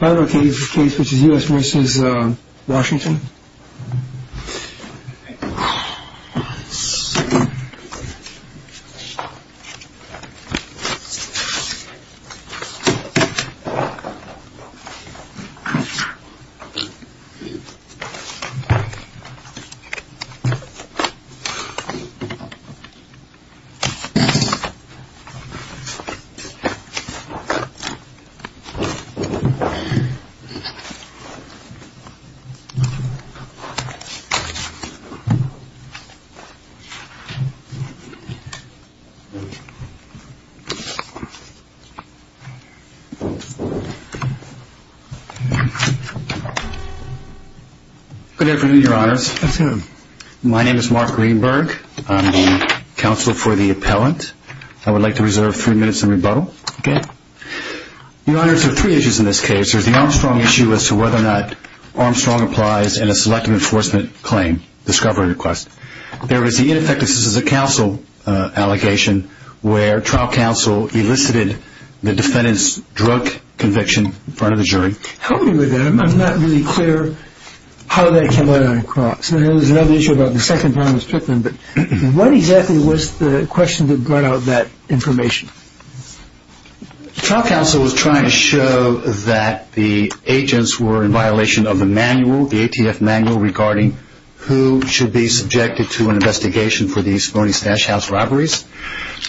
I have a case which is U.S. v. Washington Good afternoon, your honors. My name is Mark Greenberg. I'm the counsel for the appellant. I would like to reserve three minutes in rebuttal. Your honors, there are three issues in this case. There's the Armstrong issue as to whether or not Armstrong applies in a selective enforcement claim discovery request. There is the ineffectiveness of the counsel allegation where trial counsel elicited the defendant's drug conviction in front of the jury. Help me with that. I'm not really clear how that came out on the cross. What exactly was the question that brought out that information? Trial counsel was trying to show that the agents were in violation of the manual, the ATF manual, regarding who should be subjected to an investigation for these phony stash house robberies.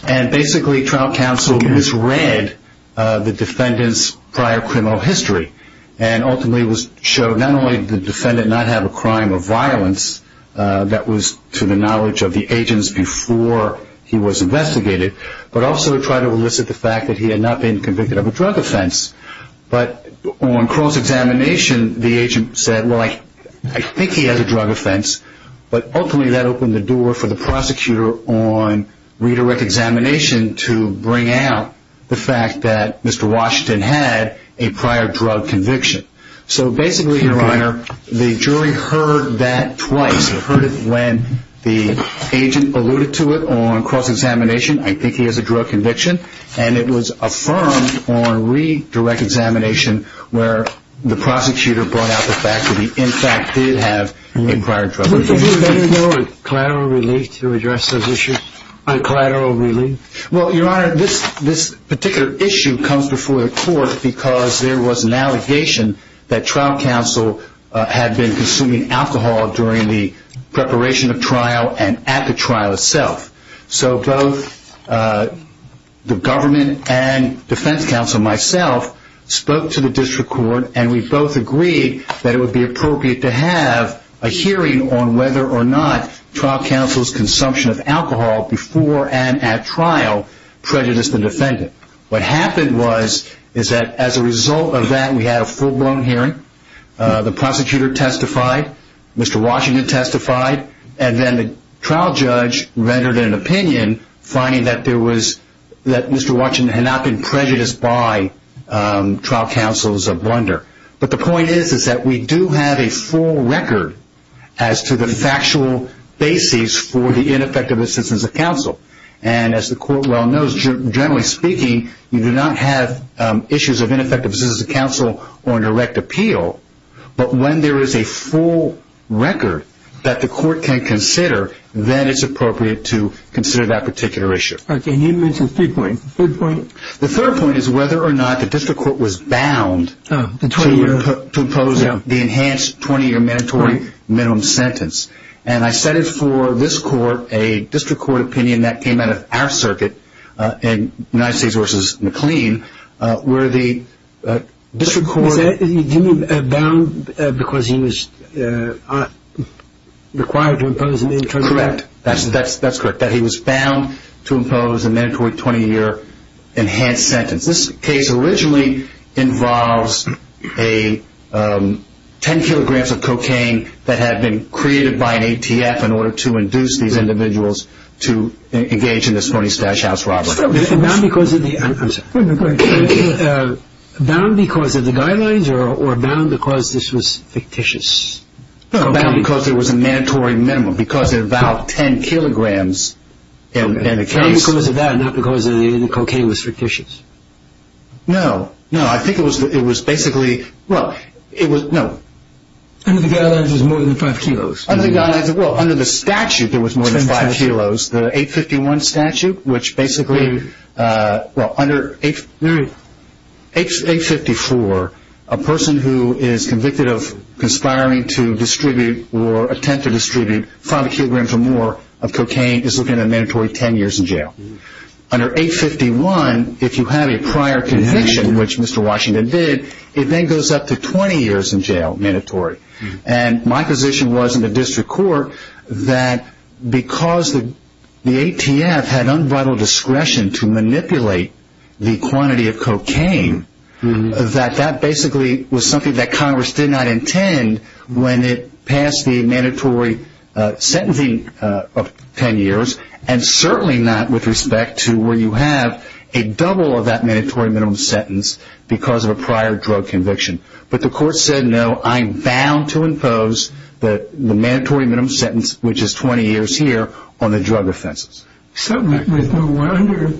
And basically, trial counsel misread the defendant's prior criminal history and ultimately showed not only did the defendant not have a crime of violence that was to the knowledge of the agents before he was investigated, but also tried to elicit the fact that he had not been convicted of a drug offense. But on cross-examination, the agent said, well, I think he has a drug offense. But ultimately, that opened the door for the prosecutor on redirect examination to bring out the fact that Mr. Washington had a prior drug conviction. So basically, Your Honor, the jury heard that twice. They heard it when the agent alluded to it on cross-examination. I think he has a drug conviction. And it was affirmed on redirect examination where the prosecutor brought out the fact that he, in fact, did have a prior drug conviction. Did you have any collateral relief to address those issues? Collateral relief? Well, Your Honor, this particular issue comes before the court because there was an allegation that trial counsel had been consuming alcohol during the preparation of trial and at the trial itself. So both the government and defense counsel, myself, spoke to the district court, and we both agreed that it would be appropriate to have a hearing on whether or not trial counsel's consumption of alcohol before and at trial prejudiced the defendant. What happened was that as a result of that, we had a full-blown hearing. The prosecutor testified. Mr. Washington testified. And then the trial judge rendered an opinion, finding that Mr. Washington had not been prejudiced by trial counsel's blunder. But the point is that we do have a full record as to the factual basis for the ineffective assistance of counsel. And as the court well knows, generally speaking, you do not have issues of ineffective assistance of counsel or direct appeal. But when there is a full record that the court can consider, then it's appropriate to consider that particular issue. Okay. And you mentioned three points. The third point? The third point is whether or not the district court was bound to impose the enhanced 20-year mandatory minimum sentence. And I set it for this court, a district court opinion that came out of our circuit in United States v. McLean, where the district court- You mean bound because he was required to impose a mandatory- Correct. That's correct, that he was bound to impose a mandatory 20-year enhanced sentence. This case originally involves 10 kilograms of cocaine that had been created by an ATF in order to induce these individuals to engage in this phony stash house robbery. Bound because of the guidelines or bound because this was fictitious? Bound because it was a mandatory minimum, because it involved 10 kilograms in the case. Bound because of that, not because the cocaine was fictitious. No, no. I think it was basically- Under the guidelines it was more than 5 kilos. Well, under the statute it was more than 5 kilos. The 851 statute, which basically- Well, under 854, a person who is convicted of conspiring to distribute or attempt to distribute 5 kilograms or more of cocaine is looking at a mandatory 10 years in jail. Under 851, if you have a prior conviction, which Mr. Washington did, it then goes up to 20 years in jail, mandatory. My position was in the district court that because the ATF had unbridled discretion to manipulate the quantity of cocaine, that that basically was something that Congress did not intend when it passed the mandatory sentencing of 10 years, and certainly not with respect to where you have a double of that mandatory minimum sentence because of a prior drug conviction. But the court said, no, I'm bound to impose the mandatory minimum sentence, which is 20 years here, on the drug offenses. So, with No. 1 under-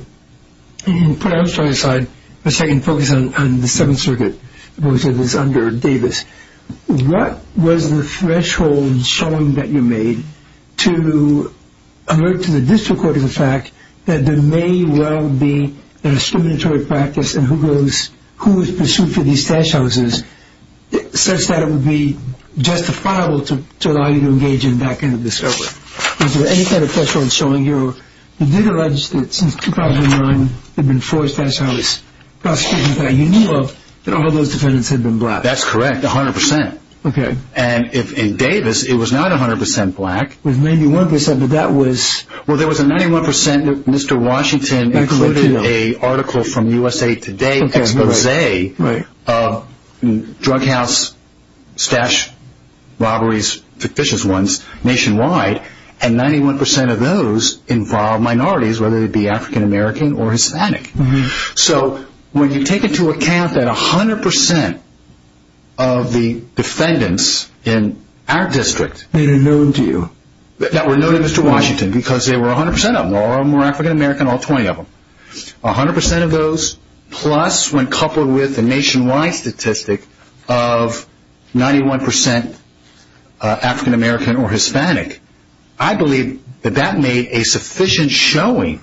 Putting that aside, let's take and focus on the Seventh Circuit, which is under Davis. What was the threshold showing that you made to alert to the district court of the fact that there may well be a discriminatory practice in whose pursuit for these stash houses, such that it would be justifiable to allow you to engage in back-ended discovery? Was there any kind of threshold showing you did allege that since 2009, there have been four stash house prosecutions that you knew of, that all those defendants had been black? That's correct, 100%. Okay. And in Davis, it was not 100% black. It was 91%, but that was- Well, there was a 91% that Mr. Washington included an article from USA Today expose of drug house stash robberies, fictitious ones, nationwide, and 91% of those involved minorities, whether they be African American or Hispanic. So, when you take into account that 100% of the defendants in our district- They were known to you. That were known to Mr. Washington because they were 100% of them, or more African American, all 20 of them. 100% of those, plus when coupled with a nationwide statistic of 91% African American or Hispanic, I believe that that made a sufficient showing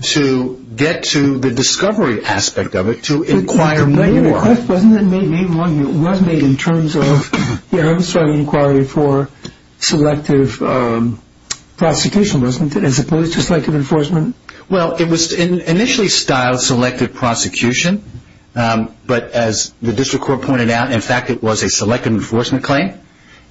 to get to the discovery aspect of it to inquire more. Wasn't that made in terms of the Armistrong inquiry for selective prosecution, as opposed to selective enforcement? Well, it was initially styled selective prosecution, but as the district court pointed out, in fact, it was a selective enforcement claim.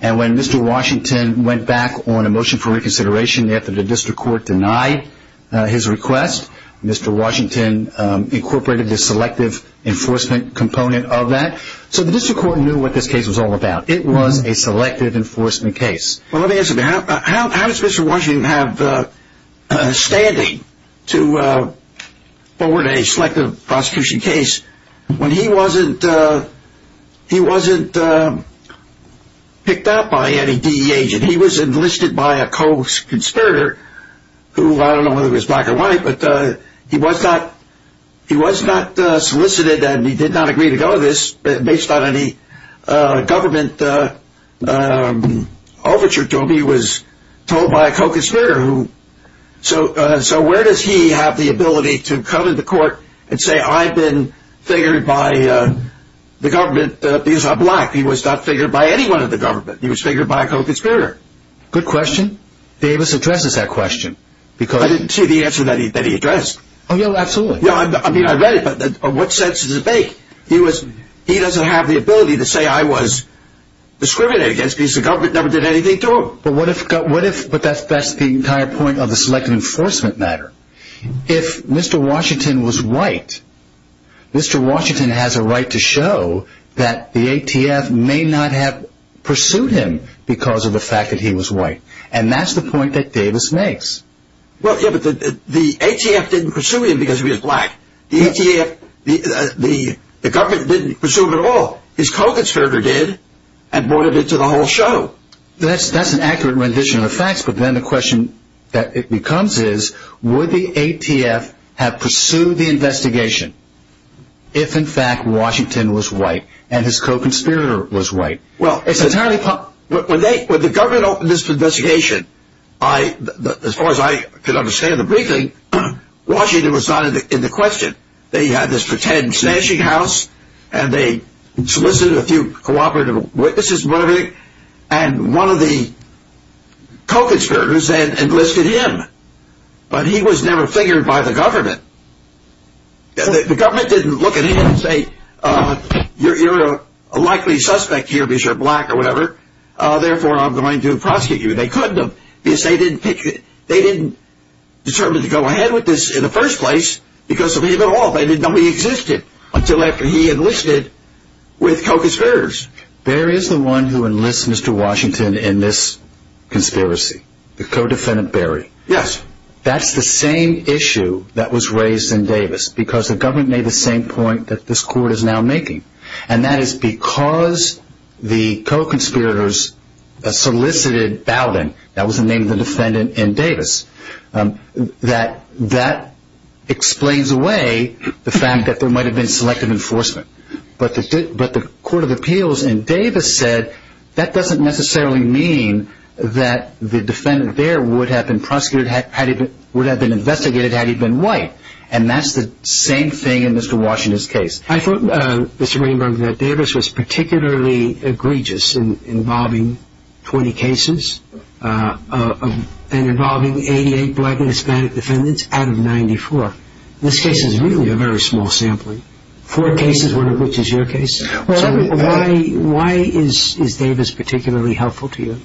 And when Mr. Washington went back on a motion for reconsideration after the district court denied his request, Mr. Washington incorporated the selective enforcement component of that. So, the district court knew what this case was all about. It was a selective enforcement case. Well, let me ask you, how does Mr. Washington have standing to forward a selective prosecution case when he wasn't picked up by any DEA agent? He was enlisted by a co-conspirator who, I don't know whether he was black or white, but he was not solicited and he did not agree to go to this based on any government overture to him. He was told by a co-conspirator. So, where does he have the ability to come into court and say, I've been figured by the government because I'm black? He was not figured by anyone in the government. He was figured by a co-conspirator. Good question. Davis addresses that question. I didn't see the answer that he addressed. Oh, yeah, absolutely. I mean, I read it, but what sense does it make? He doesn't have the ability to say I was discriminated against because the government never did anything to him. But that's the entire point of the selective enforcement matter. If Mr. Washington was white, Mr. Washington has a right to show that the ATF may not have pursued him because of the fact that he was white. And that's the point that Davis makes. Well, yeah, but the ATF didn't pursue him because he was black. The ATF, the government didn't pursue him at all. His co-conspirator did and brought him into the whole show. Well, that's an accurate rendition of the facts. But then the question that it becomes is, would the ATF have pursued the investigation if, in fact, Washington was white and his co-conspirator was white? Well, when the government opened this investigation, as far as I could understand the briefing, Washington was not in the question. They had this pretend snatching house and they solicited a few cooperative witnesses and one of the co-conspirators enlisted him. But he was never figured by the government. The government didn't look at him and say you're a likely suspect here because you're black or whatever. Therefore, I'm going to prosecute you. They didn't determine to go ahead with this in the first place because of him at all. They didn't know he existed until after he enlisted with co-conspirators. Barry is the one who enlists Mr. Washington in this conspiracy, the co-defendant Barry. Yes. That's the same issue that was raised in Davis because the government made the same point that this court is now making. That is because the co-conspirators solicited Bowden. That was the name of the defendant in Davis. That explains away the fact that there might have been selective enforcement. But the Court of Appeals in Davis said that doesn't necessarily mean that the defendant there would have been investigated had he been white. That's the same thing in Mr. Washington's case. I thought, Mr. Greenberg, that Davis was particularly egregious in involving 20 cases and involving 88 black and Hispanic defendants out of 94. This case is really a very small sampling, four cases, one of which is your case. Why is Davis particularly helpful to you?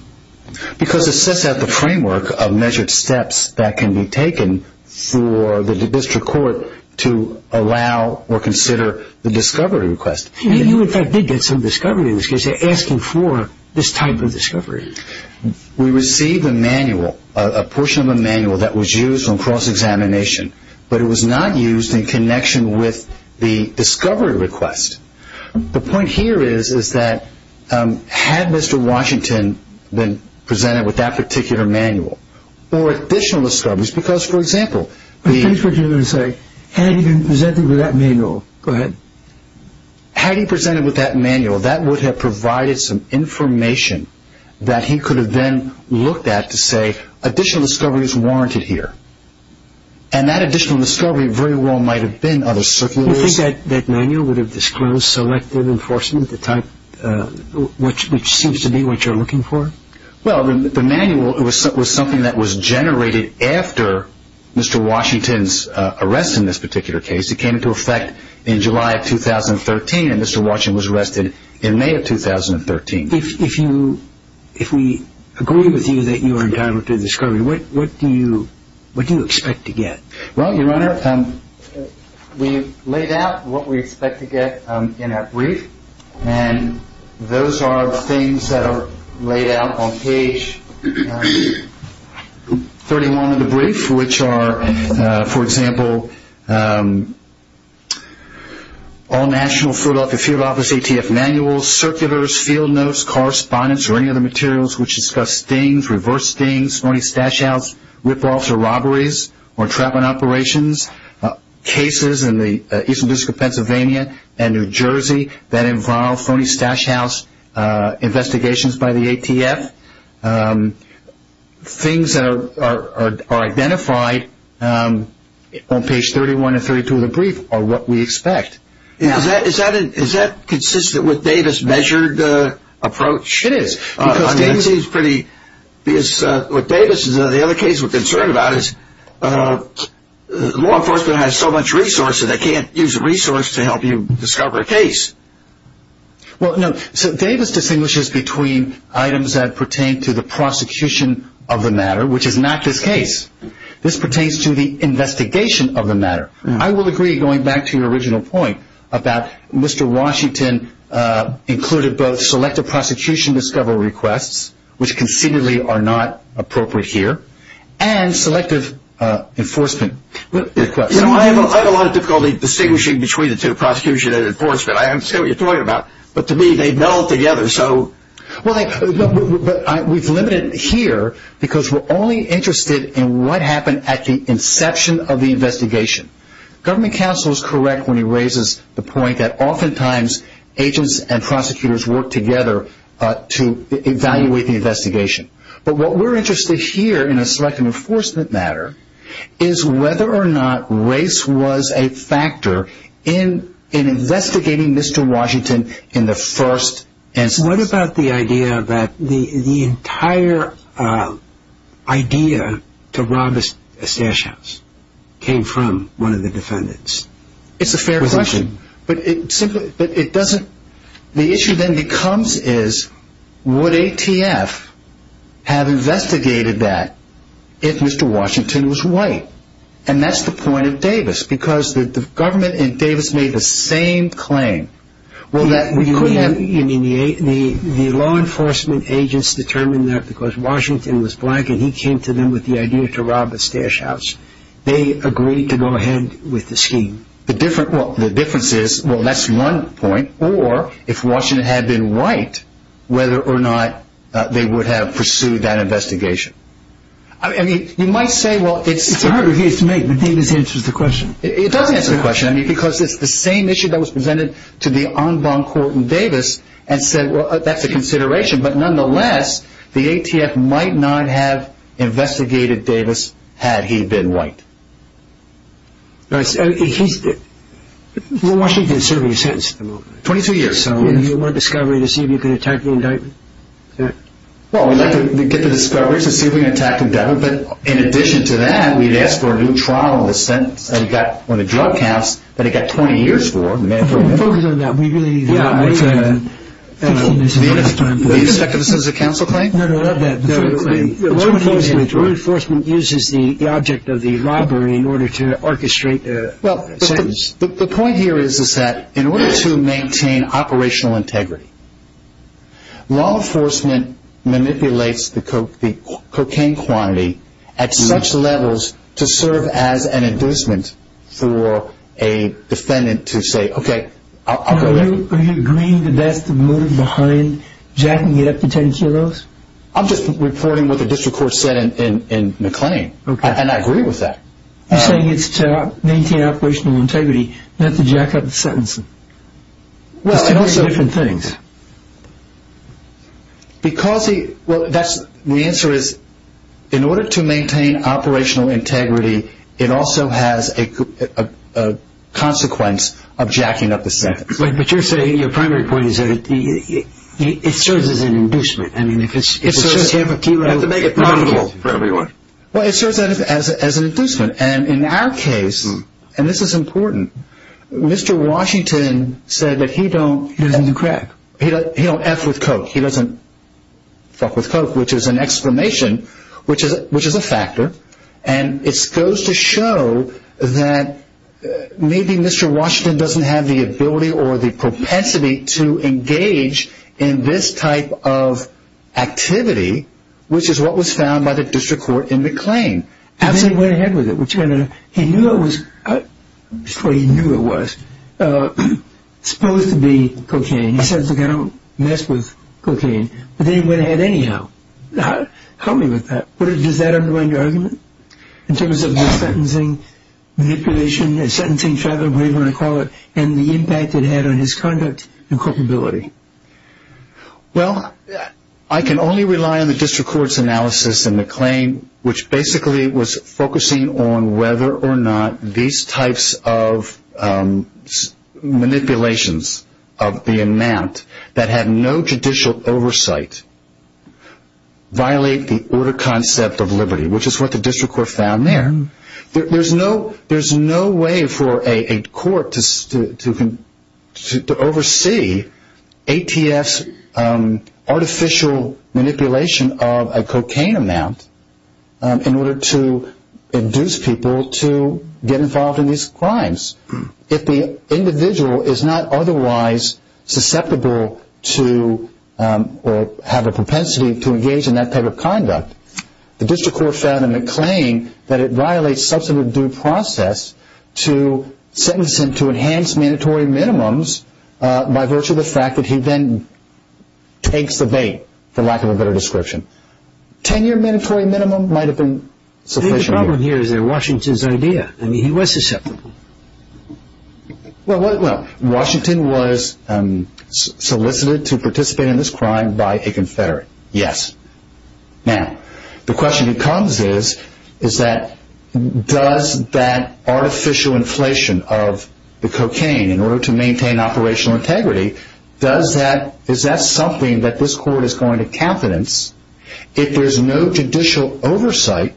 Because it sets out the framework of measured steps that can be taken for the district court to allow or consider the discovery request. You, in fact, did get some discovery in this case. They're asking for this type of discovery. We received a manual, a portion of a manual that was used on cross-examination, but it was not used in connection with the discovery request. The point here is that had Mr. Washington been presented with that particular manual or additional discoveries, because, for example, the- I think what you're going to say, had he been presented with that manual. Go ahead. Had he presented with that manual, that would have provided some information that he could have then looked at to say, additional discovery is warranted here. And that additional discovery very well might have been other circulars. Do you think that manual would have disclosed selective enforcement, the type which seems to be what you're looking for? Well, the manual was something that was generated after Mr. Washington's arrest in this particular case. It came into effect in July of 2013, and Mr. Washington was arrested in May of 2013. If we agree with you that you are entitled to discovery, what do you expect to get? Well, Your Honor, we've laid out what we expect to get in that brief, and those are the things that are laid out on page 31 of the brief, which are, for example, all national field office ATF manuals, circulars, field notes, correspondence, or any other materials which discuss stings, reverse stings, phony stash-outs, rip-offs or robberies, or trap-and-operations, cases in the Eastern District of Pennsylvania and New Jersey that involve phony stash-outs, investigations by the ATF. Things that are identified on page 31 and 32 of the brief are what we expect. Is that consistent with Davis' measured approach? It is. Because what Davis and the other cases are concerned about is law enforcement has so much resource that they can't use the resource to help you discover a case. Well, no. So Davis distinguishes between items that pertain to the prosecution of the matter, which is not this case. This pertains to the investigation of the matter. I will agree, going back to your original point about Mr. Washington included both selective prosecution discovery requests, which concededly are not appropriate here, and selective enforcement requests. I have a lot of difficulty distinguishing between the two, prosecution and enforcement. I understand what you're talking about, but to me they meld together. We've limited it here because we're only interested in what happened at the inception of the investigation. Government counsel is correct when he raises the point that oftentimes agents and prosecutors work together to evaluate the investigation. But what we're interested here in a selective enforcement matter is whether or not race was a factor in investigating Mr. Washington in the first instance. What about the idea that the entire idea to rob a stash house came from one of the defendants? It's a fair question. The issue then becomes is would ATF have investigated that if Mr. Washington was white? And that's the point of Davis, because the government in Davis made the same claim. The law enforcement agents determined that because Washington was black and he came to them with the idea to rob a stash house. They agreed to go ahead with the scheme. The difference is, well, that's one point. Or if Washington had been white, whether or not they would have pursued that investigation. It's a hard review to make, but Davis answers the question. It does answer the question, because it's the same issue that was presented to the en banc court in Davis and said, well, that's a consideration. But nonetheless, the ATF might not have investigated Davis had he been white. Well, Washington is serving a sentence at the moment. Twenty-two years. Do you want a discovery to see if you can attack the indictment? Well, we'd like to get the discovery to see if we can attack the indictment. But in addition to that, we'd ask for a new trial on the drug counts that he got 20 years for. Focus on that. We really need that. Do you expect this is a counsel claim? No, no, not that. Law enforcement uses the object of the robbery in order to orchestrate a sentence. The point here is that in order to maintain operational integrity, law enforcement manipulates the cocaine quantity at such levels to serve as an inducement for a defendant to say, okay, I'll go there. Are you agreeing that that's the motive behind jacking it up to 10 kilos? I'm just reporting what the district court said in McLean, and I agree with that. You're saying it's to maintain operational integrity, not to jack up the sentencing. It's two very different things. Well, that's the answer is in order to maintain operational integrity, it also has a consequence of jacking up the sentence. But you're saying your primary point is that it serves as an inducement. It serves as an inducement. And in our case, and this is important, Mr. Washington said that he doesn't crack. He don't F with coke. He doesn't fuck with coke, which is an exclamation, which is a factor. And it goes to show that maybe Mr. Washington doesn't have the ability or the propensity to engage in this type of activity, which is what was found by the district court in McLean. And then he went ahead with it. He knew it was supposed to be cocaine. He said, look, I don't mess with cocaine. But then he went ahead anyhow. Help me with that. Does that undermine your argument in terms of the sentencing manipulation, the sentencing travel, whatever you want to call it, and the impact it had on his conduct and culpability? Well, I can only rely on the district court's analysis in McLean, which basically was focusing on whether or not these types of manipulations of the amount that had no judicial oversight violate the order concept of liberty, which is what the district court found there. There's no way for a court to oversee ATF's artificial manipulation of a cocaine amount in order to induce people to get involved in these crimes. If the individual is not otherwise susceptible to or have a propensity to engage in that type of conduct, the district court found in McLean that it violates substantive due process to sentence him to enhanced mandatory minimums by virtue of the fact that he then takes the bait, for lack of a better description. Ten-year mandatory minimum might have been sufficient. The problem here is that Washington's idea. I mean, he was susceptible. Well, Washington was solicited to participate in this crime by a confederate. Yes. Now, the question that comes is that does that artificial inflation of the cocaine, in order to maintain operational integrity, is that something that this court is going to confidence? If there's no judicial oversight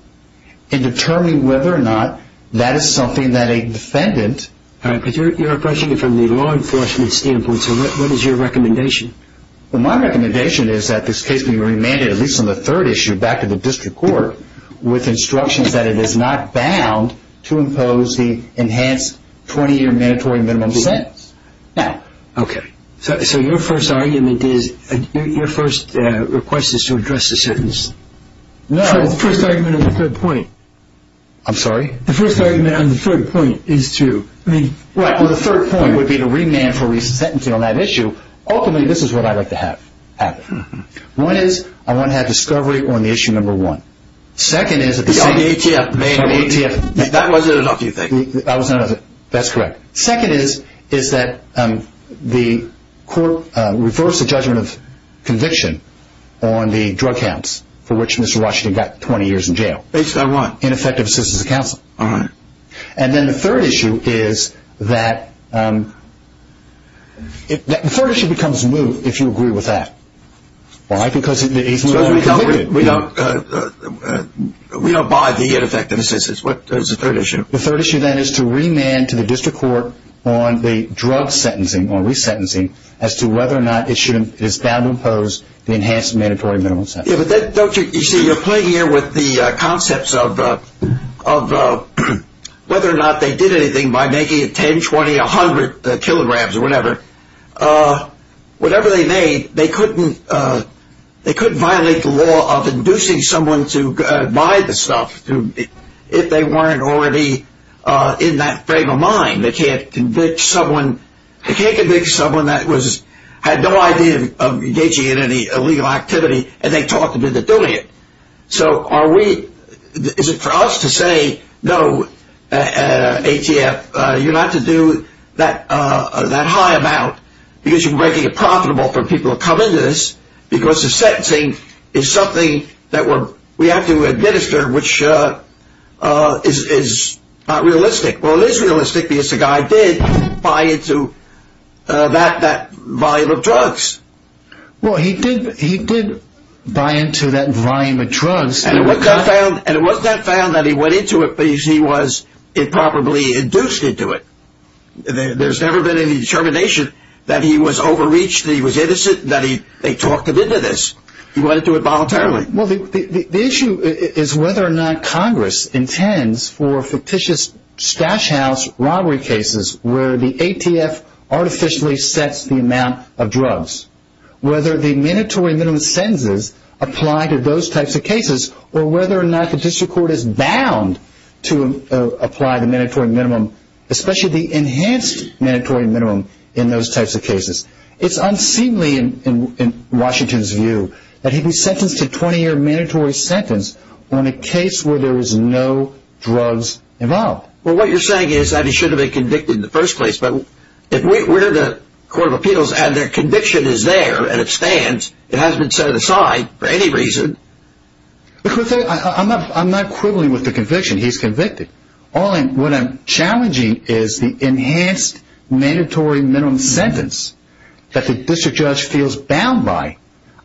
in determining whether or not that is something that a defendant... All right, but you're questioning it from the law enforcement standpoint, so what is your recommendation? Well, my recommendation is that this case be remanded, at least on the third issue, back to the district court with instructions that it is not bound to impose the enhanced 20-year mandatory minimum sentence. Okay. So your first argument is, your first request is to address the sentence? No. The first argument on the third point. I'm sorry? The first argument on the third point is to... Right, well, the third point would be to remand for resentencing on that issue. Ultimately, this is what I'd like to have happen. One is I want to have discovery on the issue number one. The second is... The ATF. The main ATF. That wasn't enough, you think? That was not enough. That's correct. Second is that the court reversed the judgment of conviction on the drug counts for which Mr. Washington got 20 years in jail. Based on what? Ineffective assistance of counsel. All right. And then the third issue is that... The third issue becomes moot if you agree with that. Why? Because the ATF... We don't buy the ineffective assistance. What is the third issue? The third issue, then, is to remand to the district court on the drug sentencing, or resentencing, as to whether or not it is bound to impose the enhanced mandatory minimum sentence. You see, you're playing here with the concepts of whether or not they did anything by making it 10, 20, 100 kilograms or whatever. Whatever they made, they couldn't violate the law of inducing someone to buy the stuff if they weren't already in that frame of mind. They can't convict someone that had no idea of engaging in any illegal activity, and they talked them into doing it. So is it for us to say, no, ATF, you're not to do that high amount because you're making it profitable for people to come into this because the sentencing is something that we have to administer, which is not realistic. Well, it is realistic because the guy did buy into that volume of drugs. Well, he did buy into that volume of drugs. And it wasn't that found that he went into it, but he was improperly induced into it. There's never been any determination that he was overreached, that he was innocent, that they talked him into this. He went into it voluntarily. Well, the issue is whether or not Congress intends for fictitious stash house robbery cases where the ATF artificially sets the amount of drugs, whether the mandatory minimum sentences apply to those types of cases, or whether or not the district court is bound to apply the mandatory minimum, especially the enhanced mandatory minimum in those types of cases. It's unseemly in Washington's view that he'd be sentenced to 20-year mandatory sentence on a case where there was no drugs involved. Well, what you're saying is that he should have been convicted in the first place, but if we're the court of appeals and their conviction is there and it stands, it hasn't been set aside for any reason. I'm not quibbling with the conviction. He's convicted. What I'm challenging is the enhanced mandatory minimum sentence that the district judge feels bound by.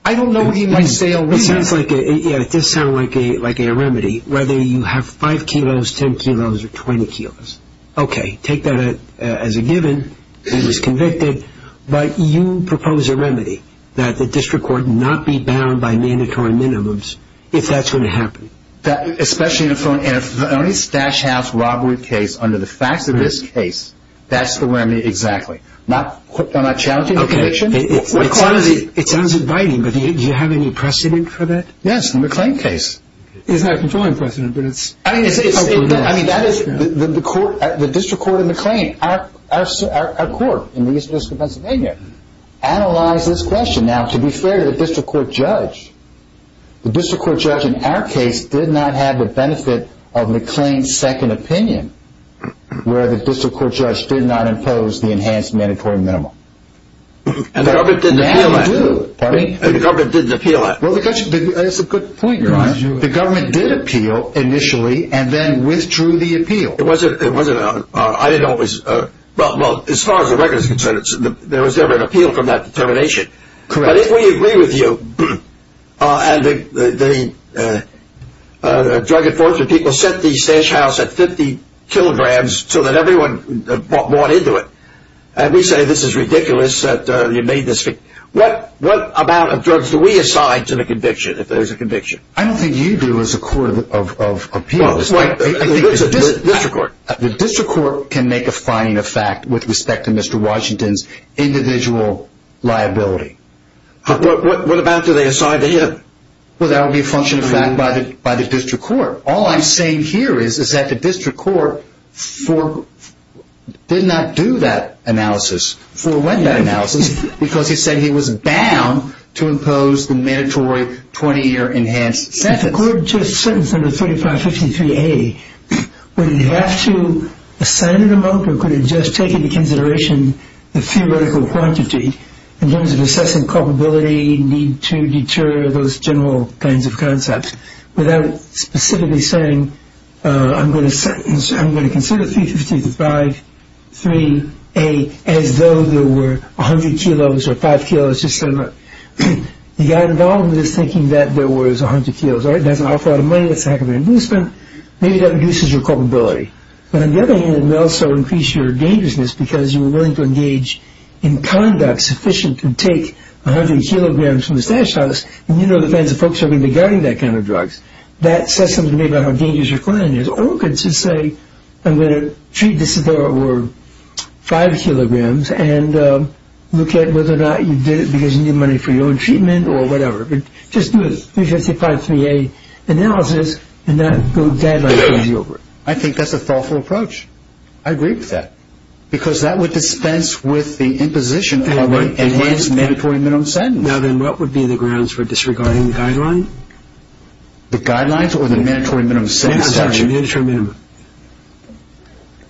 I don't know what he might say otherwise. It does sound like a remedy, whether you have 5 kilos, 10 kilos, or 20 kilos. Okay, take that as a given, he was convicted, but you propose a remedy that the district court not be bound by mandatory minimums if that's going to happen. Especially in a phony stash house robbery case under the facts of this case, that's the remedy exactly. I'm not challenging the conviction. Okay, it sounds inviting, but do you have any precedent for that? Yes, in the McLean case. It's not a controlling precedent, but it's... I mean, that is, the district court in McLean, our court in the East District of Pennsylvania, analyzed this question. Now, to be fair to the district court judge, the district court judge in our case did not have the benefit of McLean's second opinion, where the district court judge did not impose the enhanced mandatory minimum. The government didn't appeal that. Pardon me? The government didn't appeal that. Well, that's a good point, Your Honor. The government did appeal initially, and then withdrew the appeal. It wasn't... I didn't always... Well, as far as the record is concerned, there was never an appeal from that determination. Correct. But if we agree with you, and the drug enforcement people set the stash house at 50 kilograms so that everyone bought into it, and we say this is ridiculous that you made this... What amount of drugs do we assign to the conviction, if there's a conviction? I don't think you do as a court of appeals. Well, I think it's the district court. The district court can make a finding of fact with respect to Mr. Washington's individual liability. What amount do they assign to him? Well, that would be a function of fact by the district court. All I'm saying here is that the district court did not do that analysis, forewent that analysis, because he said he was bound to impose the mandatory 20-year enhanced sentence. The court just sentenced him to 3553A. Would he have to assign an amount, or could it just take into consideration the theoretical quantity in terms of assessing culpability, need to deter, those general kinds of concepts, without specifically saying, I'm going to sentence... I'm going to consider 3553A as though there were 100 kilos or 5 kilos, just so... The guy involved is thinking that there was 100 kilos. All right, that's an awful lot of money, that's a heck of an amusement. Maybe that reduces your culpability. But on the other hand, it may also increase your dangerousness, because you were willing to engage in conduct sufficient to take 100 kilograms from the stash house, and you know the kinds of folks who are going to be guarding that kind of drugs. That says something about how dangerous your client is. Or it could just say, I'm going to treat this as though it were 5 kilograms and look at whether or not you did it because you need money for your own treatment or whatever. Just do a 3553A analysis, and that deadline comes you over it. I think that's a thoughtful approach. I agree with that. Because that would dispense with the imposition of an enhanced mandatory minimum sentence. Now then, what would be the grounds for disregarding the guideline? The guidelines or the mandatory minimum sentence? The mandatory minimum.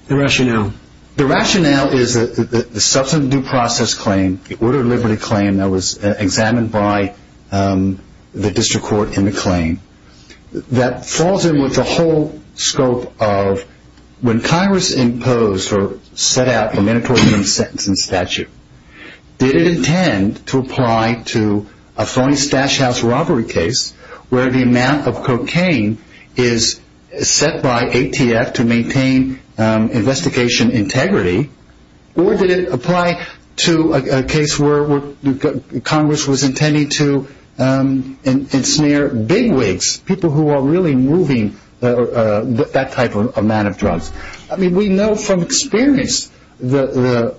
The rationale. The rationale is that the substantive due process claim, the order of liberty claim that was examined by the district court in the claim, that falls in with the whole scope of when Congress imposed or set out the mandatory minimum sentence in statute, did it intend to apply to a phony stash house robbery case where the amount of cocaine is set by ATF to maintain investigation integrity, or did it apply to a case where Congress was intending to ensnare bigwigs, people who are really moving that type of amount of drugs. I mean, we know from experience the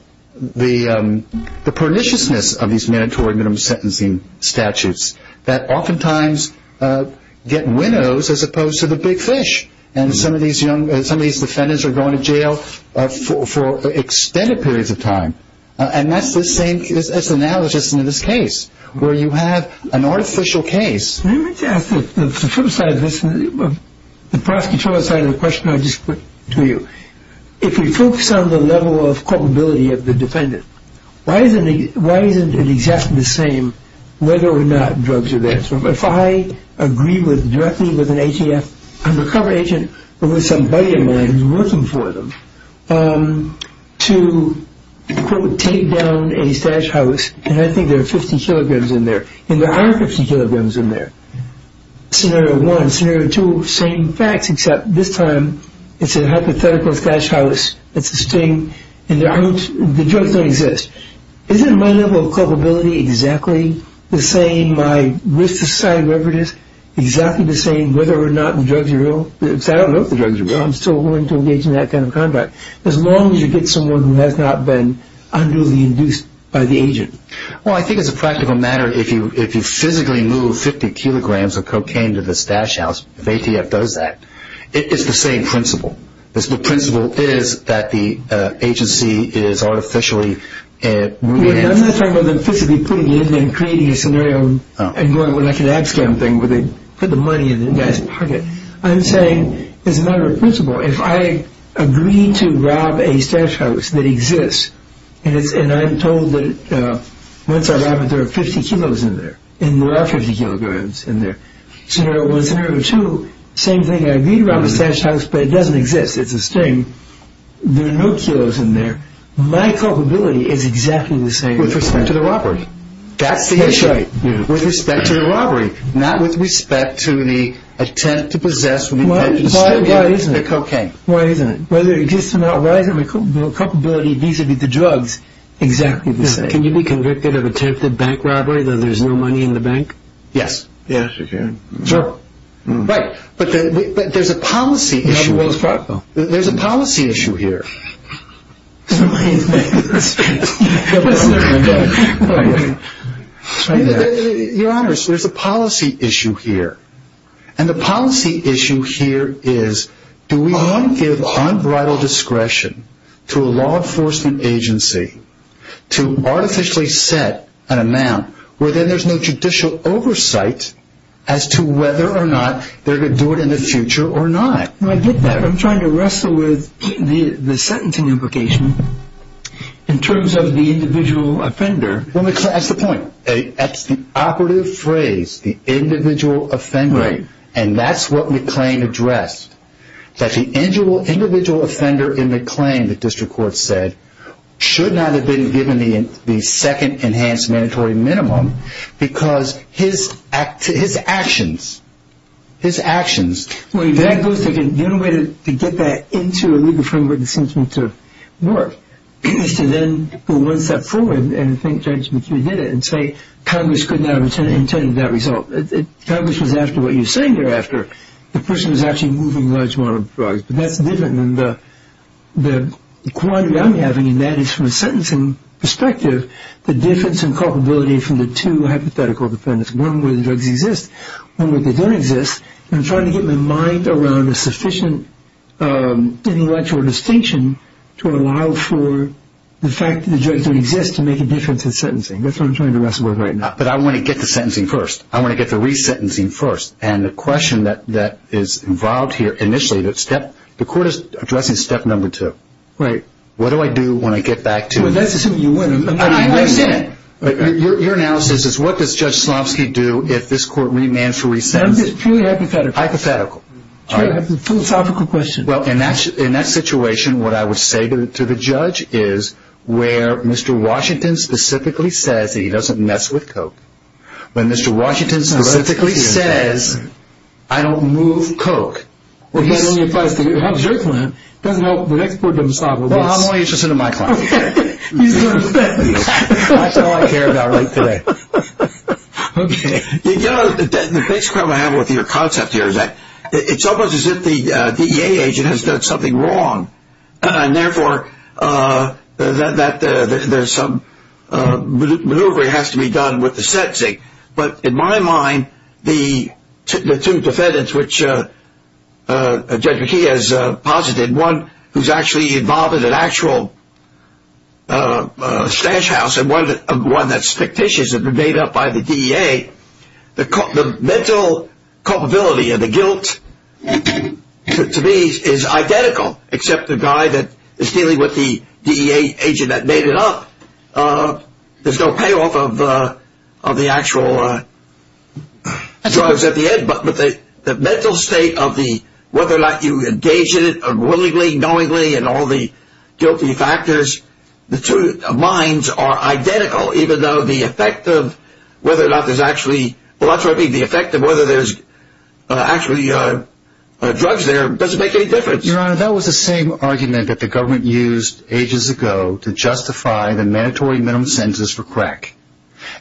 perniciousness of these mandatory minimum sentencing statutes, that oftentimes get widows as opposed to the big fish. And some of these defendants are going to jail for extended periods of time. And that's the same as analogous to this case, where you have an artificial case. Let me just ask the flip side of this, the prosecutor side of the question I just put to you. If we focus on the level of culpability of the defendant, why isn't it exactly the same whether or not drugs are there? If I agree directly with an ATF undercover agent or with somebody of mine who's working for them, to quote, take down a stash house, and I think there are 50 kilograms in there, and there aren't 50 kilograms in there. Scenario one, scenario two, same facts, except this time it's a hypothetical stash house, it's a sting, and the drugs don't exist. Isn't my level of culpability exactly the same, my risk to society, whatever it is, exactly the same whether or not the drugs are real? Because I don't know if the drugs are real. I'm still willing to engage in that kind of conduct, as long as you get someone who has not been unduly induced by the agent. Well, I think as a practical matter, if you physically move 50 kilograms of cocaine to the stash house, if ATF does that, it's the same principle. The principle is that the agency is artificially... I'm not talking about them physically putting it in and creating a scenario and going with like an ad scam thing where they put the money in the guy's pocket. I'm saying as a matter of principle, if I agree to rob a stash house that exists, and I'm told that once I rob it there are 50 kilos in there, and there are 50 kilograms in there. Scenario one, scenario two, same thing. I agree to rob a stash house, but it doesn't exist. It's a sting. There are no kilos in there. My culpability is exactly the same. With respect to the robbery. That's the issue. That's right. With respect to the robbery. Not with respect to the attempt to possess with intent to steal the cocaine. Why isn't it? Why isn't it? Whether it exists or not, why isn't my culpability vis-à-vis the drugs exactly the same? Can you be convicted of attempted bank robbery though there's no money in the bank? Yes. Sure. Right. But there's a policy issue. There's a policy issue here. Your Honors, there's a policy issue here. And the policy issue here is do we want to give unbridled discretion to a law enforcement agency to artificially set an amount where then there's no judicial oversight as to whether or not they're going to do it in the future or not. I get that. I'm trying to wrestle with the sentencing implication in terms of the individual offender. That's the point. That's the operative phrase, the individual offender. Right. And that's what McLean addressed. That the individual offender in the claim, the district court said, should not have been given the second enhanced mandatory minimum because his actions, his actions. The only way to get that into a legal framework that seems to work is to then go one step forward and think Judge McLean did it and say Congress could not have intended that result. Congress was after what you're saying thereafter. The person was actually moving a large amount of drugs. But that's different than the quantity I'm having, and that is from a sentencing perspective, the difference in culpability from the two hypothetical defendants, one where the drugs exist, one where they don't exist. And I'm trying to get my mind around a sufficient intellectual distinction to allow for the fact that the drugs don't exist to make a difference in sentencing. That's what I'm trying to wrestle with right now. But I want to get to sentencing first. I want to get to resentencing first. And the question that is involved here initially, the court is addressing step number two. Right. What do I do when I get back to it? Well, that's assuming you win. I understand. But your analysis is what does Judge Slavsky do if this court remands for resentencing? It's purely hypothetical. Hypothetical. It's a philosophical question. Well, in that situation, what I would say to the judge is where Mr. Washington specifically says that he doesn't mess with coke, when Mr. Washington specifically says, I don't move coke. Well, that only applies to your client. It doesn't help the next court to stop him. Well, I'm only interested in my client. Okay. That's all I care about right today. Okay. You know, the big problem I have with your concept here is that it's almost as if the DEA agent has done something wrong. And, therefore, there's some maneuvering that has to be done with the sentencing. But in my mind, the two defendants which Judge McKee has posited, one who's actually involved in an actual stash house and one that's fictitious and made up by the DEA, the mental culpability and the guilt to me is identical, except the guy that is dealing with the DEA agent that made it up, there's no payoff of the actual drugs at the end. But the mental state of whether or not you engage in it willingly, knowingly, and all the guilty factors, the two minds are identical, even though the effect of whether or not there's actually, well, that's what I mean, the effect of whether there's actually drugs there doesn't make any difference. Your Honor, that was the same argument that the government used ages ago to justify the mandatory minimum sentences for crack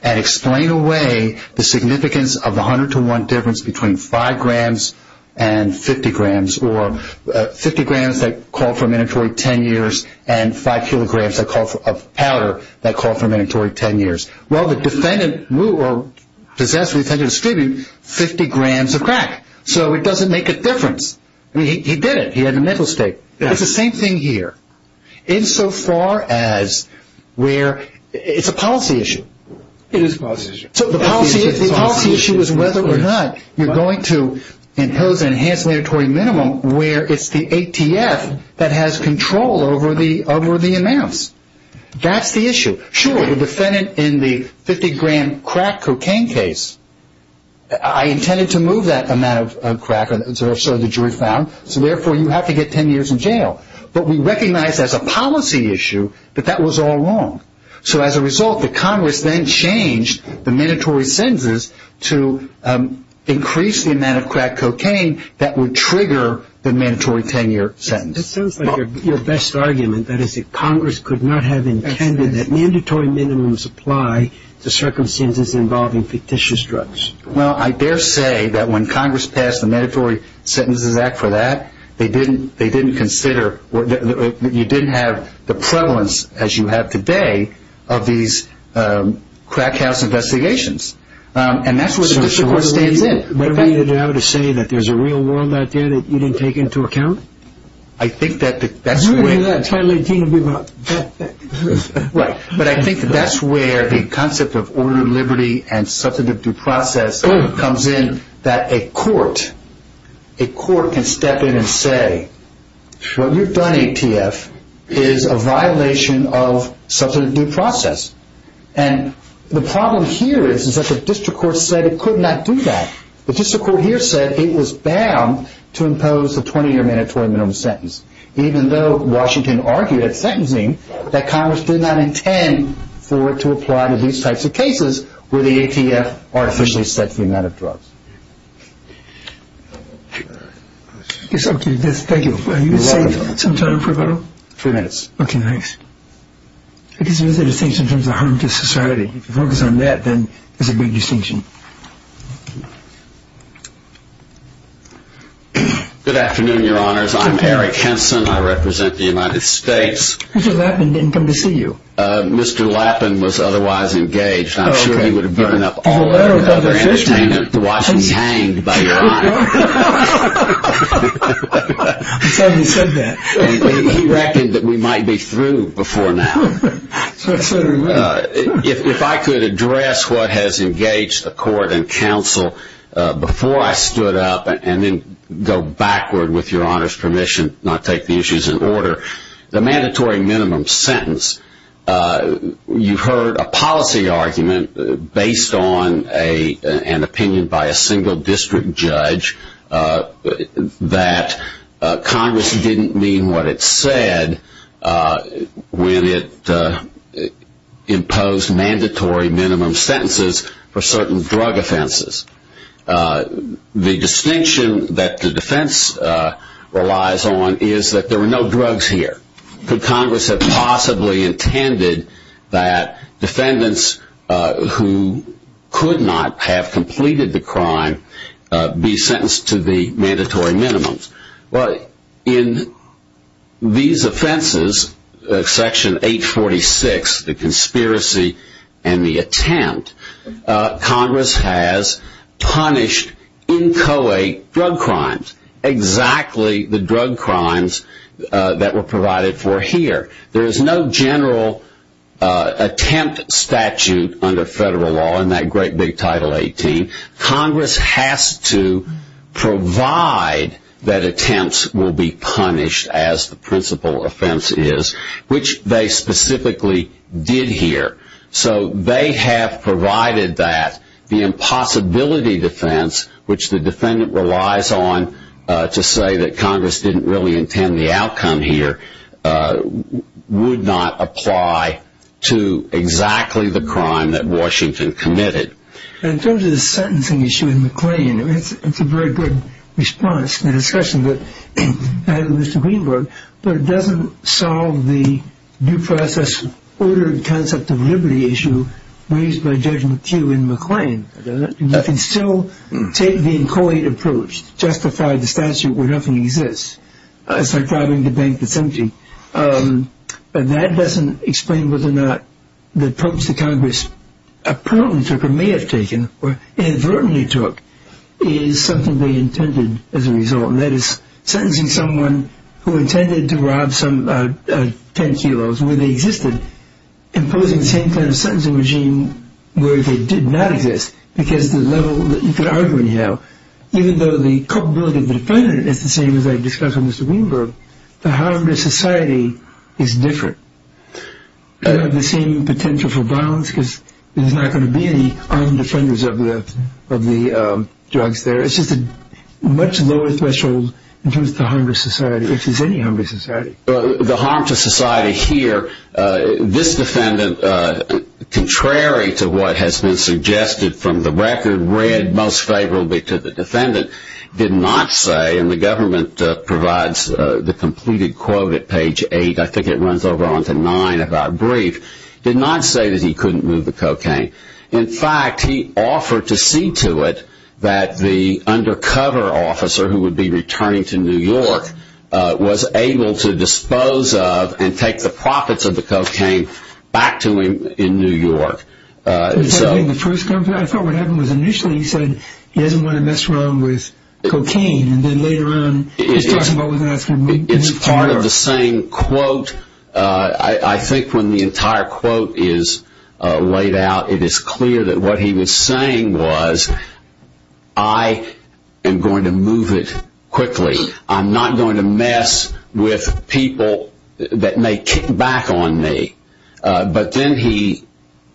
and explain away the significance of the 100-to-1 difference between 5 grams and 50 grams, or 50 grams that call for a mandatory 10 years and 5 kilograms of powder that call for a mandatory 10 years. Well, the defendant, or possessed of the defendant's tribute, 50 grams of crack. So it doesn't make a difference. I mean, he did it. He had a mental state. It's the same thing here, insofar as where it's a policy issue. It is a policy issue. So the policy issue is whether or not you're going to impose an enhanced mandatory minimum where it's the ATF that has control over the amounts. That's the issue. Sure, the defendant in the 50-gram crack cocaine case, I intended to move that amount of crack, so the jury found, so therefore you have to get 10 years in jail. But we recognize as a policy issue that that was all wrong. So as a result, the Congress then changed the mandatory sentences to increase the amount of crack cocaine that would trigger the mandatory 10-year sentence. That sounds like your best argument, that is that Congress could not have intended that mandatory minimums apply to circumstances involving fictitious drugs. Well, I dare say that when Congress passed the Mandatory Sentences Act for that, they didn't consider that you didn't have the prevalence, as you have today, of these crack house investigations. And that's where the district court stands in. Whatever you have to say that there's a real world out there that you didn't take into account? I think that's where the concept of order of liberty and substantive due process comes in, that a court can step in and say, what you've done, ATF, is a violation of substantive due process. And the problem here is that the district court said it could not do that. The district court here said it was bound to impose a 20-year mandatory minimum sentence, even though Washington argued at sentencing that Congress did not intend for it to apply to these types of cases where the ATF artificially set the amount of drugs. Thank you. Are you going to save some time for a photo? Three minutes. Okay, thanks. I guess there's a distinction in terms of harm to society. If you focus on that, then there's a big distinction. Good afternoon, Your Honors. I'm Eric Henson. I represent the United States. Mr. Lappin didn't come to see you. Mr. Lappin was otherwise engaged. I'm sure he would have given up all entertainment to watch me hanged by Your Honor. I'm sorry you said that. He reckoned that we might be through before now. If I could address what has engaged the court and counsel before I stood up and then go backward with Your Honor's permission, not take the issues in order, the mandatory minimum sentence, you heard a policy argument based on an opinion by a single district judge that Congress didn't mean what it said when it imposed mandatory minimum sentences for certain drug offenses. The distinction that the defense relies on is that there were no drugs here. Could Congress have possibly intended that defendants who could not have completed the crime be sentenced to the mandatory minimums? Well, in these offenses, Section 846, the conspiracy and the attempt, Congress has punished inchoate drug crimes, exactly the drug crimes that were provided for here. There is no general attempt statute under federal law in that great big Title 18. Congress has to provide that attempts will be punished as the principal offense is, which they specifically did here. So they have provided that the impossibility defense, which the defendant relies on to say that Congress didn't really intend the outcome here, would not apply to exactly the crime that Washington committed. In terms of the sentencing issue in McLean, it's a very good response to the discussion that I had with Mr. Greenberg, but it doesn't solve the due process ordered concept of liberty issue raised by Judge McHugh in McLean. You can still take the inchoate approach, justify the statute where nothing exists. It's like driving the bank that's empty. But that doesn't explain whether or not the approach that Congress apparently took or may have taken or inadvertently took is something they intended as a result. And that is sentencing someone who intended to rob some ten kilos where they existed, imposing the same kind of sentencing regime where they did not exist because the level that you could argue anyhow, even though the culpability of the defendant is the same as I discussed with Mr. Greenberg, the harm to society is different. They don't have the same potential for violence because there's not going to be any armed offenders of the drugs there. It's just a much lower threshold in terms of the harm to society, which is any harm to society. The harm to society here, this defendant, contrary to what has been suggested from the record, read most favorably to the defendant, did not say, and the government provides the completed quote at page eight, I think it runs over onto nine of our brief, did not say that he couldn't move the cocaine. In fact, he offered to see to it that the undercover officer who would be returning to New York was able to dispose of and take the profits of the cocaine back to him in New York. I thought what happened was initially he said he doesn't want to mess around with cocaine, and then later on he's talking about moving to New York. It's part of the same quote. I think when the entire quote is laid out, it is clear that what he was saying was I am going to move it quickly. I'm not going to mess with people that may kick back on me. But then he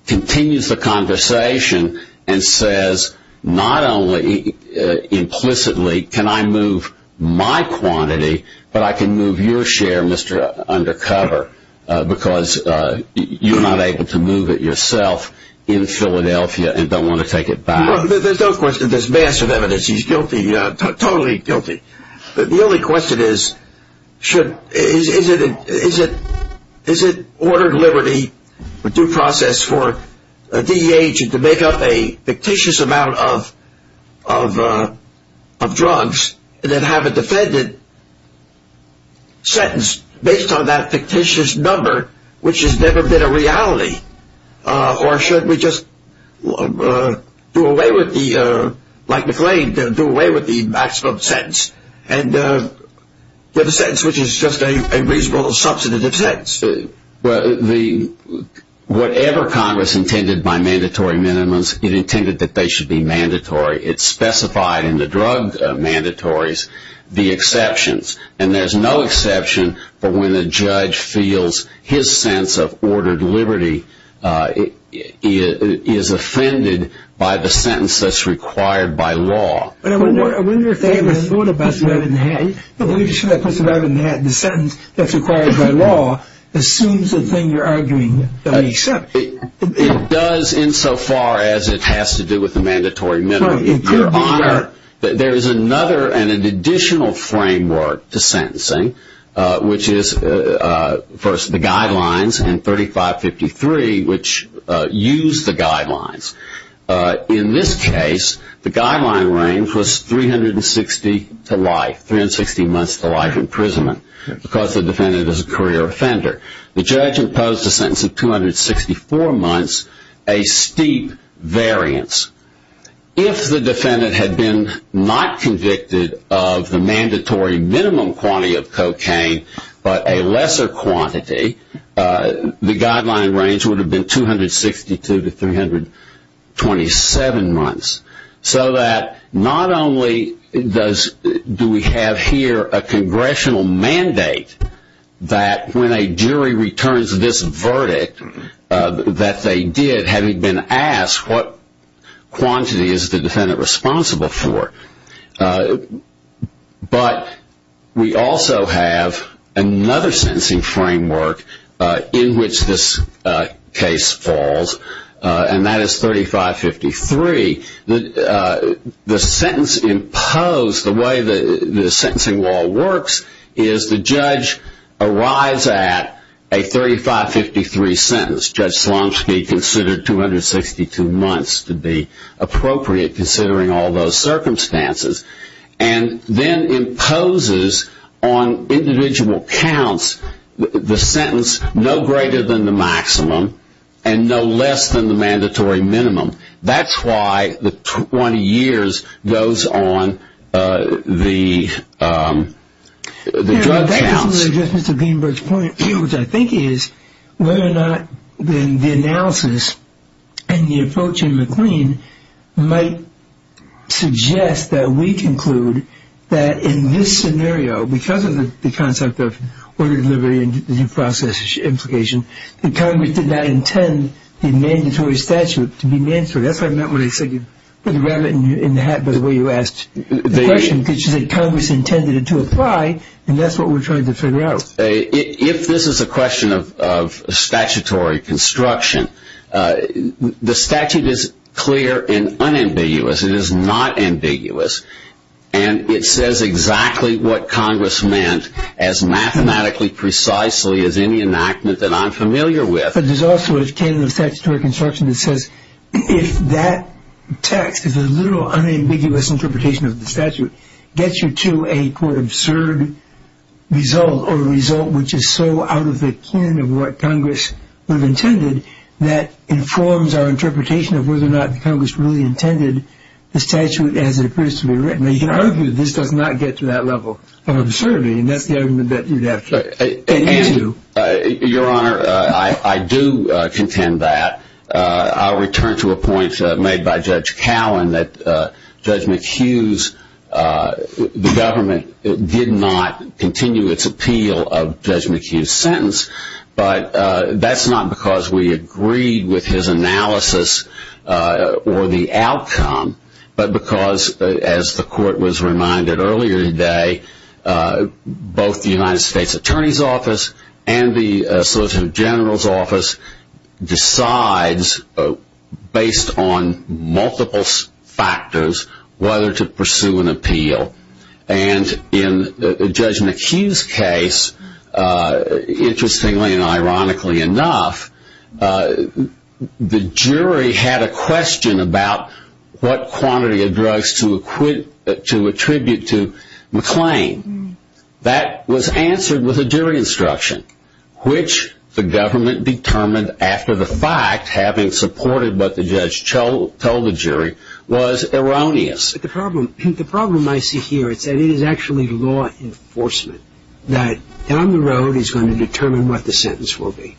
continues the conversation and says not only implicitly can I move my quantity, but I can move your share, Mr. Undercover, because you're not able to move it yourself in Philadelphia and don't want to take it back. There's no question there's massive evidence he's guilty, totally guilty. The only question is, is it order of liberty, due process for a DEA agent to make up a fictitious amount of drugs and then have a defendant sentence based on that fictitious number, which has never been a reality? Or should we just, like McLean, do away with the maximum sentence and get a sentence which is just a reasonable substantive sentence? Whatever Congress intended by mandatory minimums, it intended that they should be mandatory. It's specified in the drug mandatories, the exceptions. And there's no exception for when a judge feels his sense of ordered liberty is offended by the sentence that's required by law. I wonder if they ever thought about surviving the sentence that's required by law assumes the thing you're arguing doesn't exist. It does insofar as it has to do with the mandatory minimum. Your Honor, there is another and an additional framework to sentencing, which is first the guidelines and 3553, which use the guidelines. In this case, the guideline range was 360 to life, 360 months to life imprisonment, because the defendant is a career offender. The judge imposed a sentence of 264 months, a steep variance. If the defendant had been not convicted of the mandatory minimum quantity of cocaine, but a lesser quantity, the guideline range would have been 262 to 327 months. So that not only do we have here a congressional mandate that when a jury returns this verdict that they did, having been asked what quantity is the defendant responsible for, but we also have another sentencing framework in which this case falls, and that is 3553. The sentence imposed, the way the sentencing law works, is the judge arrives at a 3553 sentence. Judge Slomski considered 262 months to be appropriate, considering all those circumstances, and then imposes on individual counts the sentence no greater than the maximum and no less than the mandatory minimum. That's why the 20 years goes on the drug counts. That doesn't address Mr. Greenberg's point, which I think is whether or not the analysis and the approach in McLean might suggest that we conclude that in this scenario, because of the concept of order of liberty and due process implication, that Congress did not intend the mandatory statute to be mandatory. That's what I meant when I said you put the rabbit in the hat by the way you asked the question, because you said Congress intended it to apply, and that's what we're trying to figure out. If this is a question of statutory construction, the statute is clear and unambiguous. It is not ambiguous, and it says exactly what Congress meant as mathematically precisely as any enactment that I'm familiar with. But there's also a canon of statutory construction that says if that text, if the literal unambiguous interpretation of the statute gets you to a, quote, absurd result or result which is so out of the kin of what Congress would have intended, that informs our interpretation of whether or not Congress really intended the statute as it appears to be written. Now, you can argue that this does not get to that level of absurdity, and that's the argument that you'd have to continue to. Your Honor, I do contend that. I'll return to a point made by Judge Cowan that Judge McHugh's government did not continue its appeal of Judge McHugh's sentence, but that's not because we agreed with his analysis or the outcome, but because, as the Court was reminded earlier today, both the United States Attorney's Office and the Solicitor General's Office decides, based on multiple factors, whether to pursue an appeal. And in Judge McHugh's case, interestingly and ironically enough, the jury had a question about what quantity of drugs to attribute to McClain. That was answered with a jury instruction, which the government determined after the fact, having supported what the judge told the jury, was erroneous. The problem I see here is that it is actually law enforcement that, down the road, is going to determine what the sentence will be.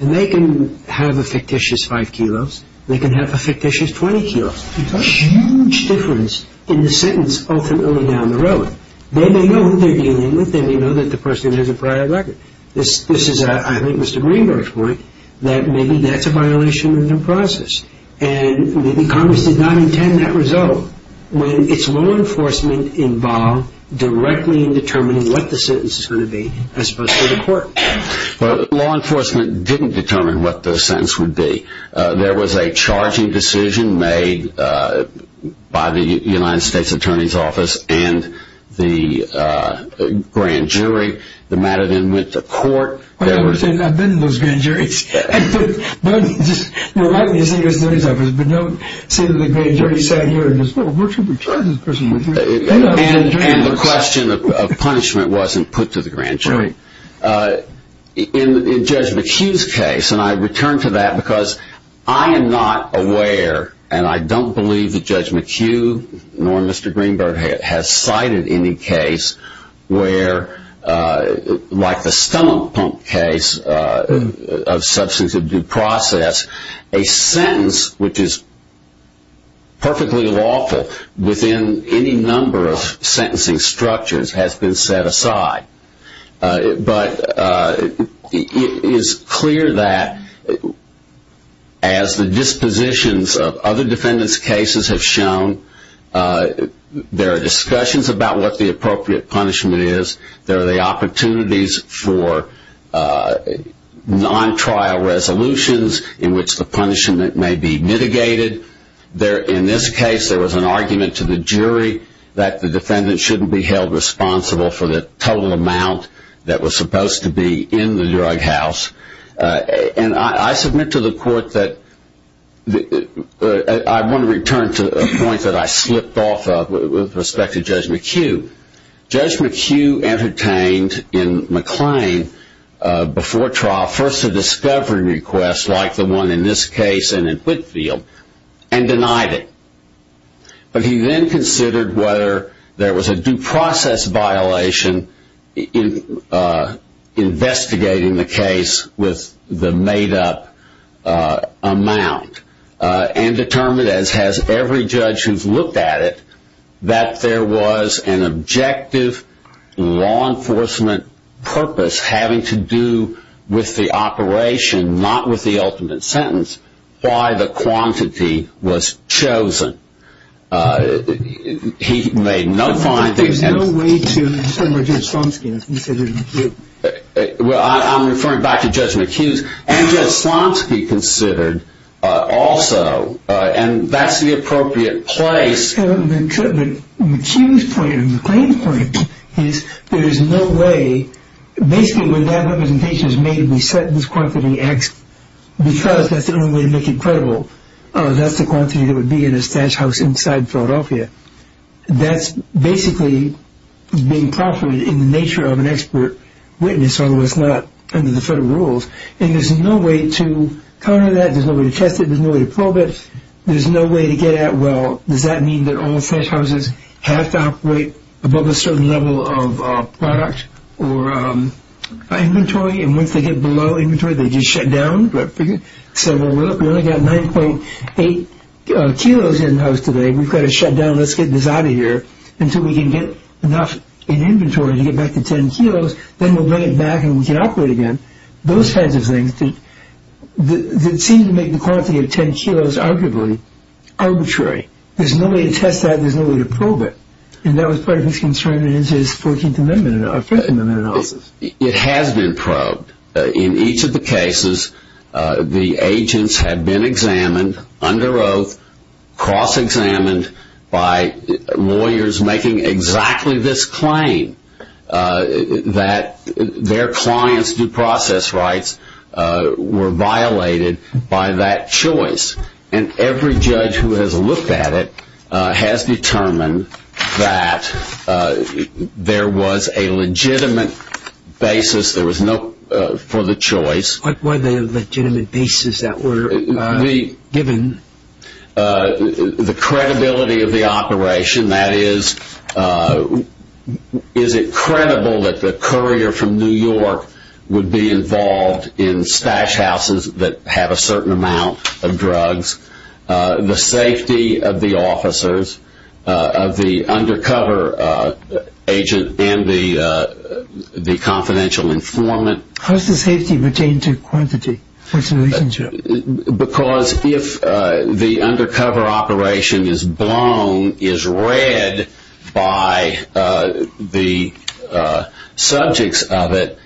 And they can have a fictitious 5 kilos, they can have a fictitious 20 kilos. There's a huge difference in the sentence ultimately down the road. They may know who they're dealing with, they may know that the person has a prior record. This is, I think, Mr. Greenberg's point, that maybe that's a violation of the process, and maybe Congress did not intend that result. When it's law enforcement involved directly in determining what the sentence is going to be, it's supposed to go to court. Well, law enforcement didn't determine what the sentence would be. There was a charging decision made by the United States Attorney's Office and the grand jury. The matter then went to court. I understand, I've been to those grand juries. Remind me to see the Attorney's Office, but don't say that the grand jury sat here and said, well, where should we charge this person? And the question of punishment wasn't put to the grand jury. In Judge McHugh's case, and I return to that because I am not aware, and I don't believe that Judge McHugh nor Mr. Greenberg has cited any case where, like the stomach pump case of substance of due process, a sentence which is perfectly lawful within any number of sentencing structures has been set aside. But it is clear that, as the dispositions of other defendants' cases have shown, there are discussions about what the appropriate punishment is. There are the opportunities for non-trial resolutions in which the punishment may be mitigated. In this case, there was an argument to the jury that the defendant shouldn't be held responsible for the total amount that was supposed to be in the drug house. And I submit to the court that I want to return to a point that I slipped off of with respect to Judge McHugh. Judge McHugh entertained in McLean, before trial, first a discovery request, like the one in this case and in Whitfield, and denied it. But he then considered whether there was a due process violation in investigating the case with the made-up amount, and determined, as has every judge who's looked at it, that there was an objective law enforcement purpose having to do with the operation, not with the ultimate sentence, why the quantity was chosen. He made no findings. There's no way to determine whether Judge Slomski considered it. I'm referring back to Judge McHugh's. And Judge Slomski considered also, and that's the appropriate place. The McHugh's point and McLean's point is there is no way, basically when that representation is made, we set this quantity X, because that's the only way to make it credible. That's the quantity that would be in a stash house inside Philadelphia. That's basically being proffered in the nature of an expert witness, otherwise not under the federal rules. And there's no way to counter that. There's no way to test it. There's no way to probe it. There's no way to get at, well, does that mean that all stash houses have to operate above a certain level of product or inventory? And once they get below inventory, they just shut down. So we only got 9.8 kilos in the house today. We've got to shut down. Let's get this out of here until we can get enough in inventory to get back to 10 kilos. Then we'll bring it back and we can operate again. Those kinds of things that seem to make the quantity of 10 kilos arguably arbitrary. There's no way to test that. There's no way to probe it. And that was part of his concern in his 14th Amendment analysis. It has been probed. In each of the cases, the agents have been examined under oath, cross-examined by lawyers making exactly this claim, that their clients' due process rights were violated by that choice. And every judge who has looked at it has determined that there was a legitimate basis. There was no for the choice. What were the legitimate basis that were given? The credibility of the operation, that is, is it credible that the courier from New York would be involved in stash houses that have a certain amount of drugs, the safety of the officers, of the undercover agent and the confidential informant. How does the safety pertain to quantity? What's the relationship? Because if the undercover operation is blown, is read by the subjects of it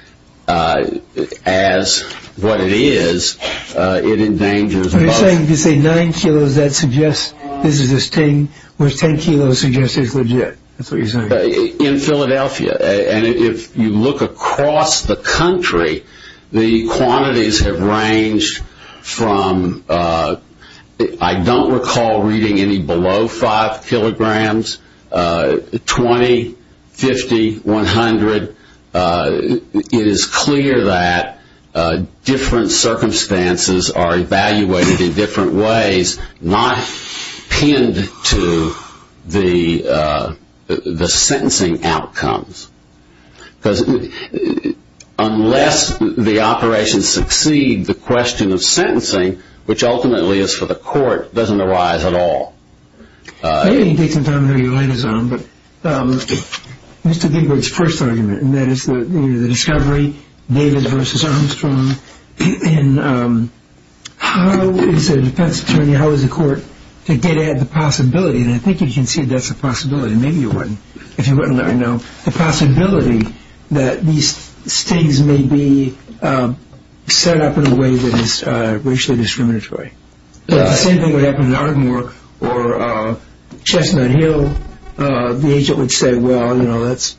as what it is, it endangers both. You're saying if you say 9 kilos, that suggests this is a sting, where 10 kilos suggests it's legit. That's what you're saying? In Philadelphia. And if you look across the country, the quantities have ranged from, I don't recall reading any below 5 kilograms, 20, 50, 100. It is clear that different circumstances are evaluated in different ways, not pinned to the sentencing outcomes. Because unless the operations succeed, the question of sentencing, which ultimately is for the court, doesn't arise at all. Maybe you can take some time to relay this on, but Mr. Gingrich's first argument, and that is the discovery, David versus Armstrong, and how is the defense attorney, how is the court to get at the possibility, and I think you can see that's a possibility, maybe you wouldn't if you wouldn't let me know, the possibility that these stings may be set up in a way that is racially discriminatory. The same thing would happen in Ardmore or Chestnut Hill. The agent would say, well, let's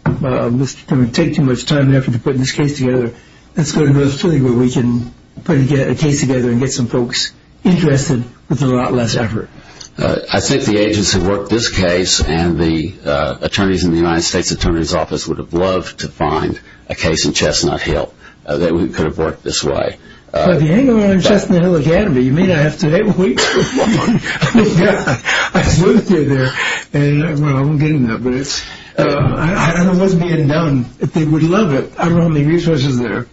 take too much time and effort to put this case together. Let's go to a facility where we can put a case together and get some folks interested with a lot less effort. I think the agents have worked this case, and the attorneys in the United States Attorney's Office would have loved to find a case in Chestnut Hill that could have worked this way. Well, if you hang around in Chestnut Hill Academy, you may not have to wait for one. I just went through there, and I won't get into that, but I don't know what's being done. If they would love it, I don't have any resources there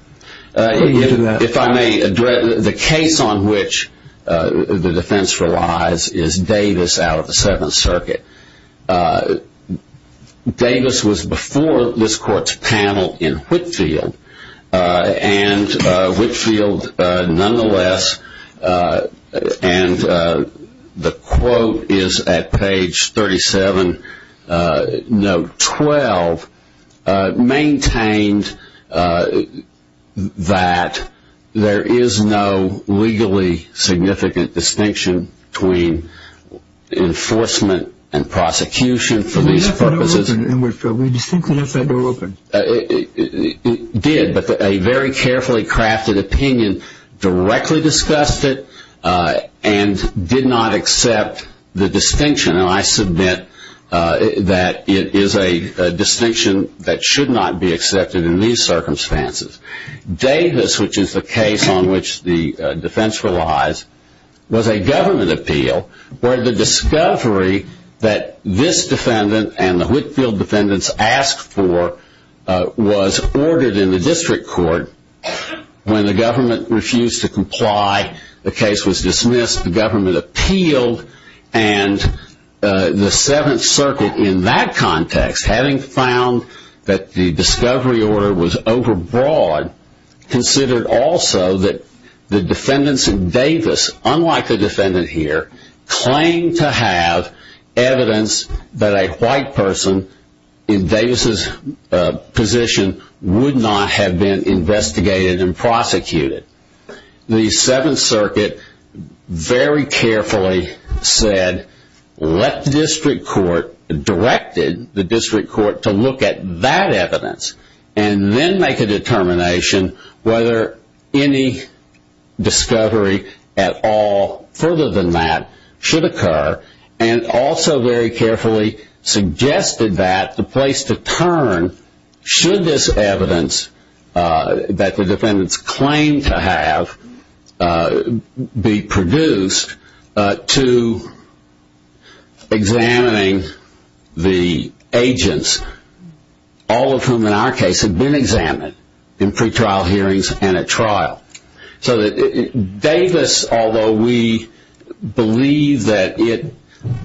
for you to do that. If I may address, the case on which the defense relies is Davis out of the Seventh Circuit. Davis was before this court's panel in Whitfield, and Whitfield nonetheless, and the quote is at page 37, note 12, maintained that there is no legally significant distinction between enforcement and prosecution for these purposes. We have a door open in Whitfield. We distinctly have a door open. It did, but a very carefully crafted opinion directly discussed it and did not accept the distinction, and I submit that it is a distinction that should not be accepted in these circumstances. Davis, which is the case on which the defense relies, was a government appeal where the discovery that this defendant and the Whitfield defendants asked for was ordered in the district court. When the government refused to comply, the case was dismissed, the government appealed, and the Seventh Circuit in that context, having found that the discovery order was overbroad, considered also that the defendants in Davis, unlike the defendant here, claimed to have evidence that a white person in Davis' position would not have been investigated and prosecuted. The Seventh Circuit very carefully said, let the district court, directed the district court to look at that evidence and then make a determination whether any discovery at all further than that should occur and also very carefully suggested that the place to turn, should this evidence that the defendants claimed to have be produced, to examining the agents, all of whom in our case had been examined in pre-trial hearings and at trial. So Davis, although we believe that it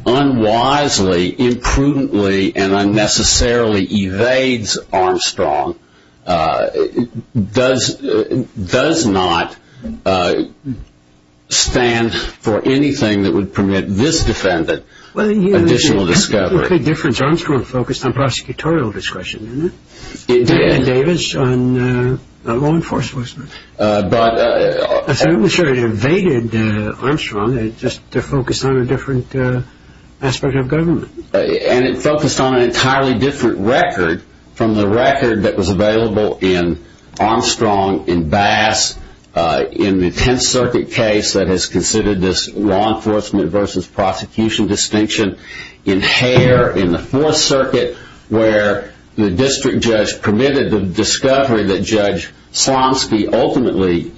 unwisely, imprudently, and unnecessarily evades Armstrong, does not stand for anything that would permit this defendant additional discovery. Armstrong focused on prosecutorial discretion, didn't he? He did. And Davis on law enforcement. I'm sure it evaded Armstrong, it just focused on a different aspect of government. And it focused on an entirely different record from the record that was available in Armstrong, in Bass, in the Tenth Circuit case that has considered this law enforcement versus prosecution distinction, in Hare, in the Fourth Circuit where the district judge permitted the discovery that Judge Slomski ultimately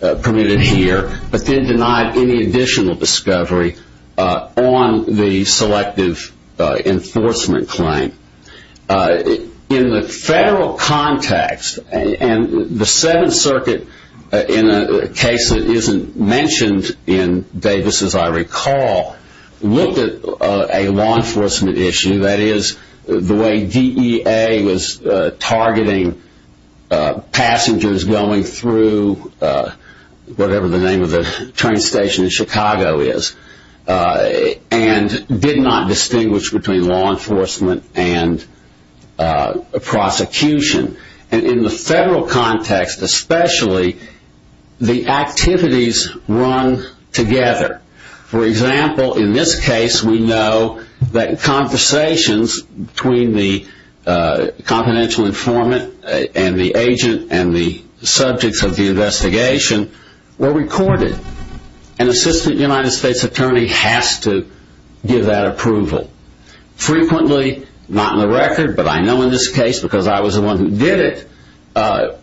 permitted here, but then denied any additional discovery on the selective enforcement claim. In the federal context, and the Seventh Circuit in a case that isn't mentioned in Davis, as I recall, looked at a law enforcement issue, that is the way DEA was targeting passengers going through whatever the name of the train station in Chicago is, and did not distinguish between law enforcement and prosecution. And in the federal context especially, the activities run together. For example, in this case we know that conversations between the confidential informant and the agent and the subjects of the investigation were recorded. An assistant United States attorney has to give that approval. Frequently, not in the record, but I know in this case because I was the one who did it,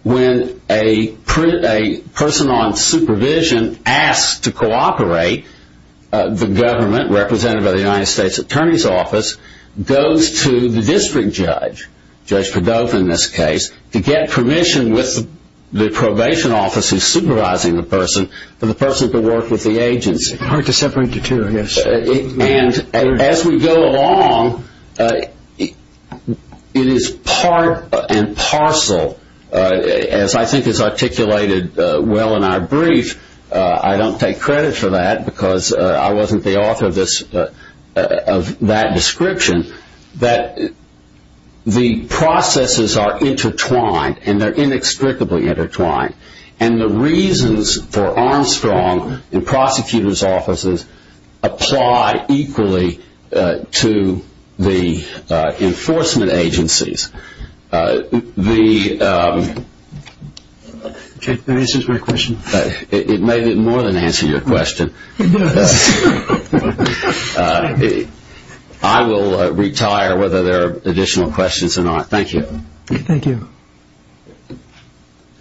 when a person on supervision asks to cooperate, the government, represented by the United States Attorney's Office, goes to the district judge, Judge Padova in this case, to get permission with the probation office who is supervising the person for the person to work with the agency. Hard to separate the two, I guess. As we go along, it is part and parcel, as I think is articulated well in our brief, I don't take credit for that because I wasn't the author of that description, that the processes are intertwined and they're inextricably intertwined. And the reasons for Armstrong in prosecutor's offices apply equally to the enforcement agencies. The answer to my question? It may be more than answering your question. I will retire whether there are additional questions or not. Thank you. Thank you.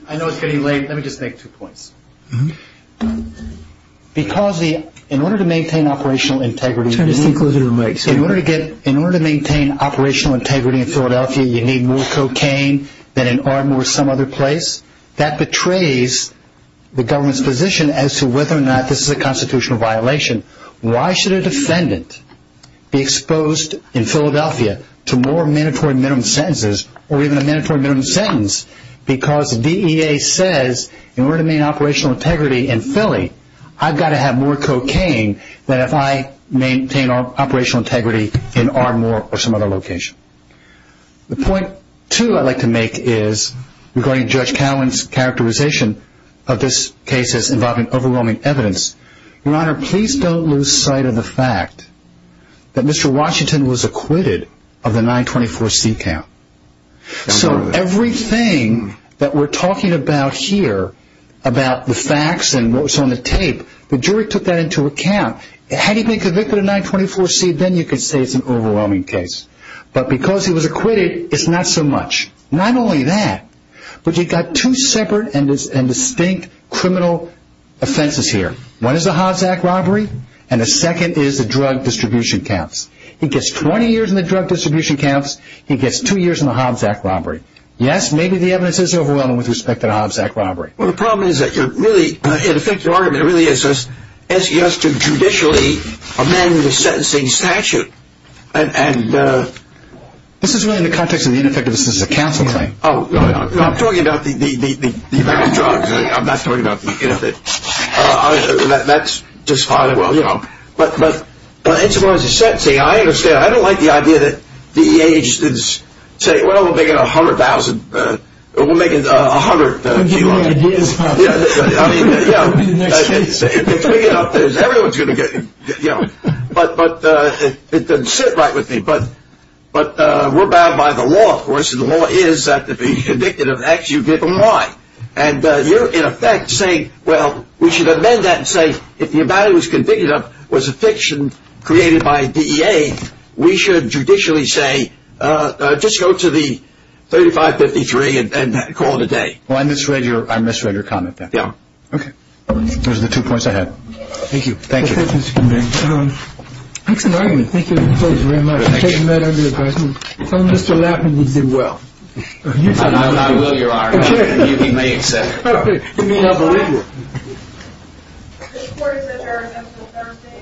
I know it's getting late. Let me just make two points. Because in order to maintain operational integrity in Philadelphia, you need more cocaine than in Ardmore or some other place. That betrays the government's position as to whether or not this is a constitutional violation. Why should a defendant be exposed in Philadelphia to more mandatory minimum sentences or even a mandatory minimum sentence? Because the DEA says in order to maintain operational integrity in Philly, I've got to have more cocaine than if I maintain operational integrity in Ardmore or some other location. The point, too, I'd like to make is, regarding Judge Cowen's characterization of this case as involving overwhelming evidence, Your Honor, please don't lose sight of the fact that Mr. Washington was acquitted of the 924C count. So everything that we're talking about here, about the facts and what was on the tape, the jury took that into account. Had he been convicted of 924C, then you could say it's an overwhelming case. But because he was acquitted, it's not so much. Not only that, but you've got two separate and distinct criminal offenses here. One is the Hobbs Act robbery, and the second is the drug distribution counts. He gets 20 years in the drug distribution counts. He gets two years in the Hobbs Act robbery. Yes, maybe the evidence is overwhelming with respect to the Hobbs Act robbery. Well, the problem is that really, in effect, your argument really is asking us to judicially amend the sentencing statute. This is really in the context of the ineffectiveness of the counseling. Oh, no, I'm talking about the effect of drugs. I'm not talking about the ineffectiveness. That's just fine. But as far as the sentencing, I understand. I don't like the idea that the EAH says, well, we'll make it $100,000. We'll make it $100,000. Give me ideas about that. If we get up there, everyone's going to get it. But it doesn't sit right with me. But we're bound by the law, of course, and the law is that to be convicted of X, you give them Y. And you're, in effect, saying, well, we should amend that and say if the amount it was convicted of was a fiction created by DEA, we should judicially say, just go to the 3553 and call it a day. Well, I misread your comment there. Yeah. Okay. Those are the two points I had. Thank you. Thank you. Excellent argument. Thank you very much. Thank you. Tell Mr. Lappin he did well. I will, Your Honor. He may accept. Okay. He may not believe you. This court is adjourned until Thursday. Everybody may be seated.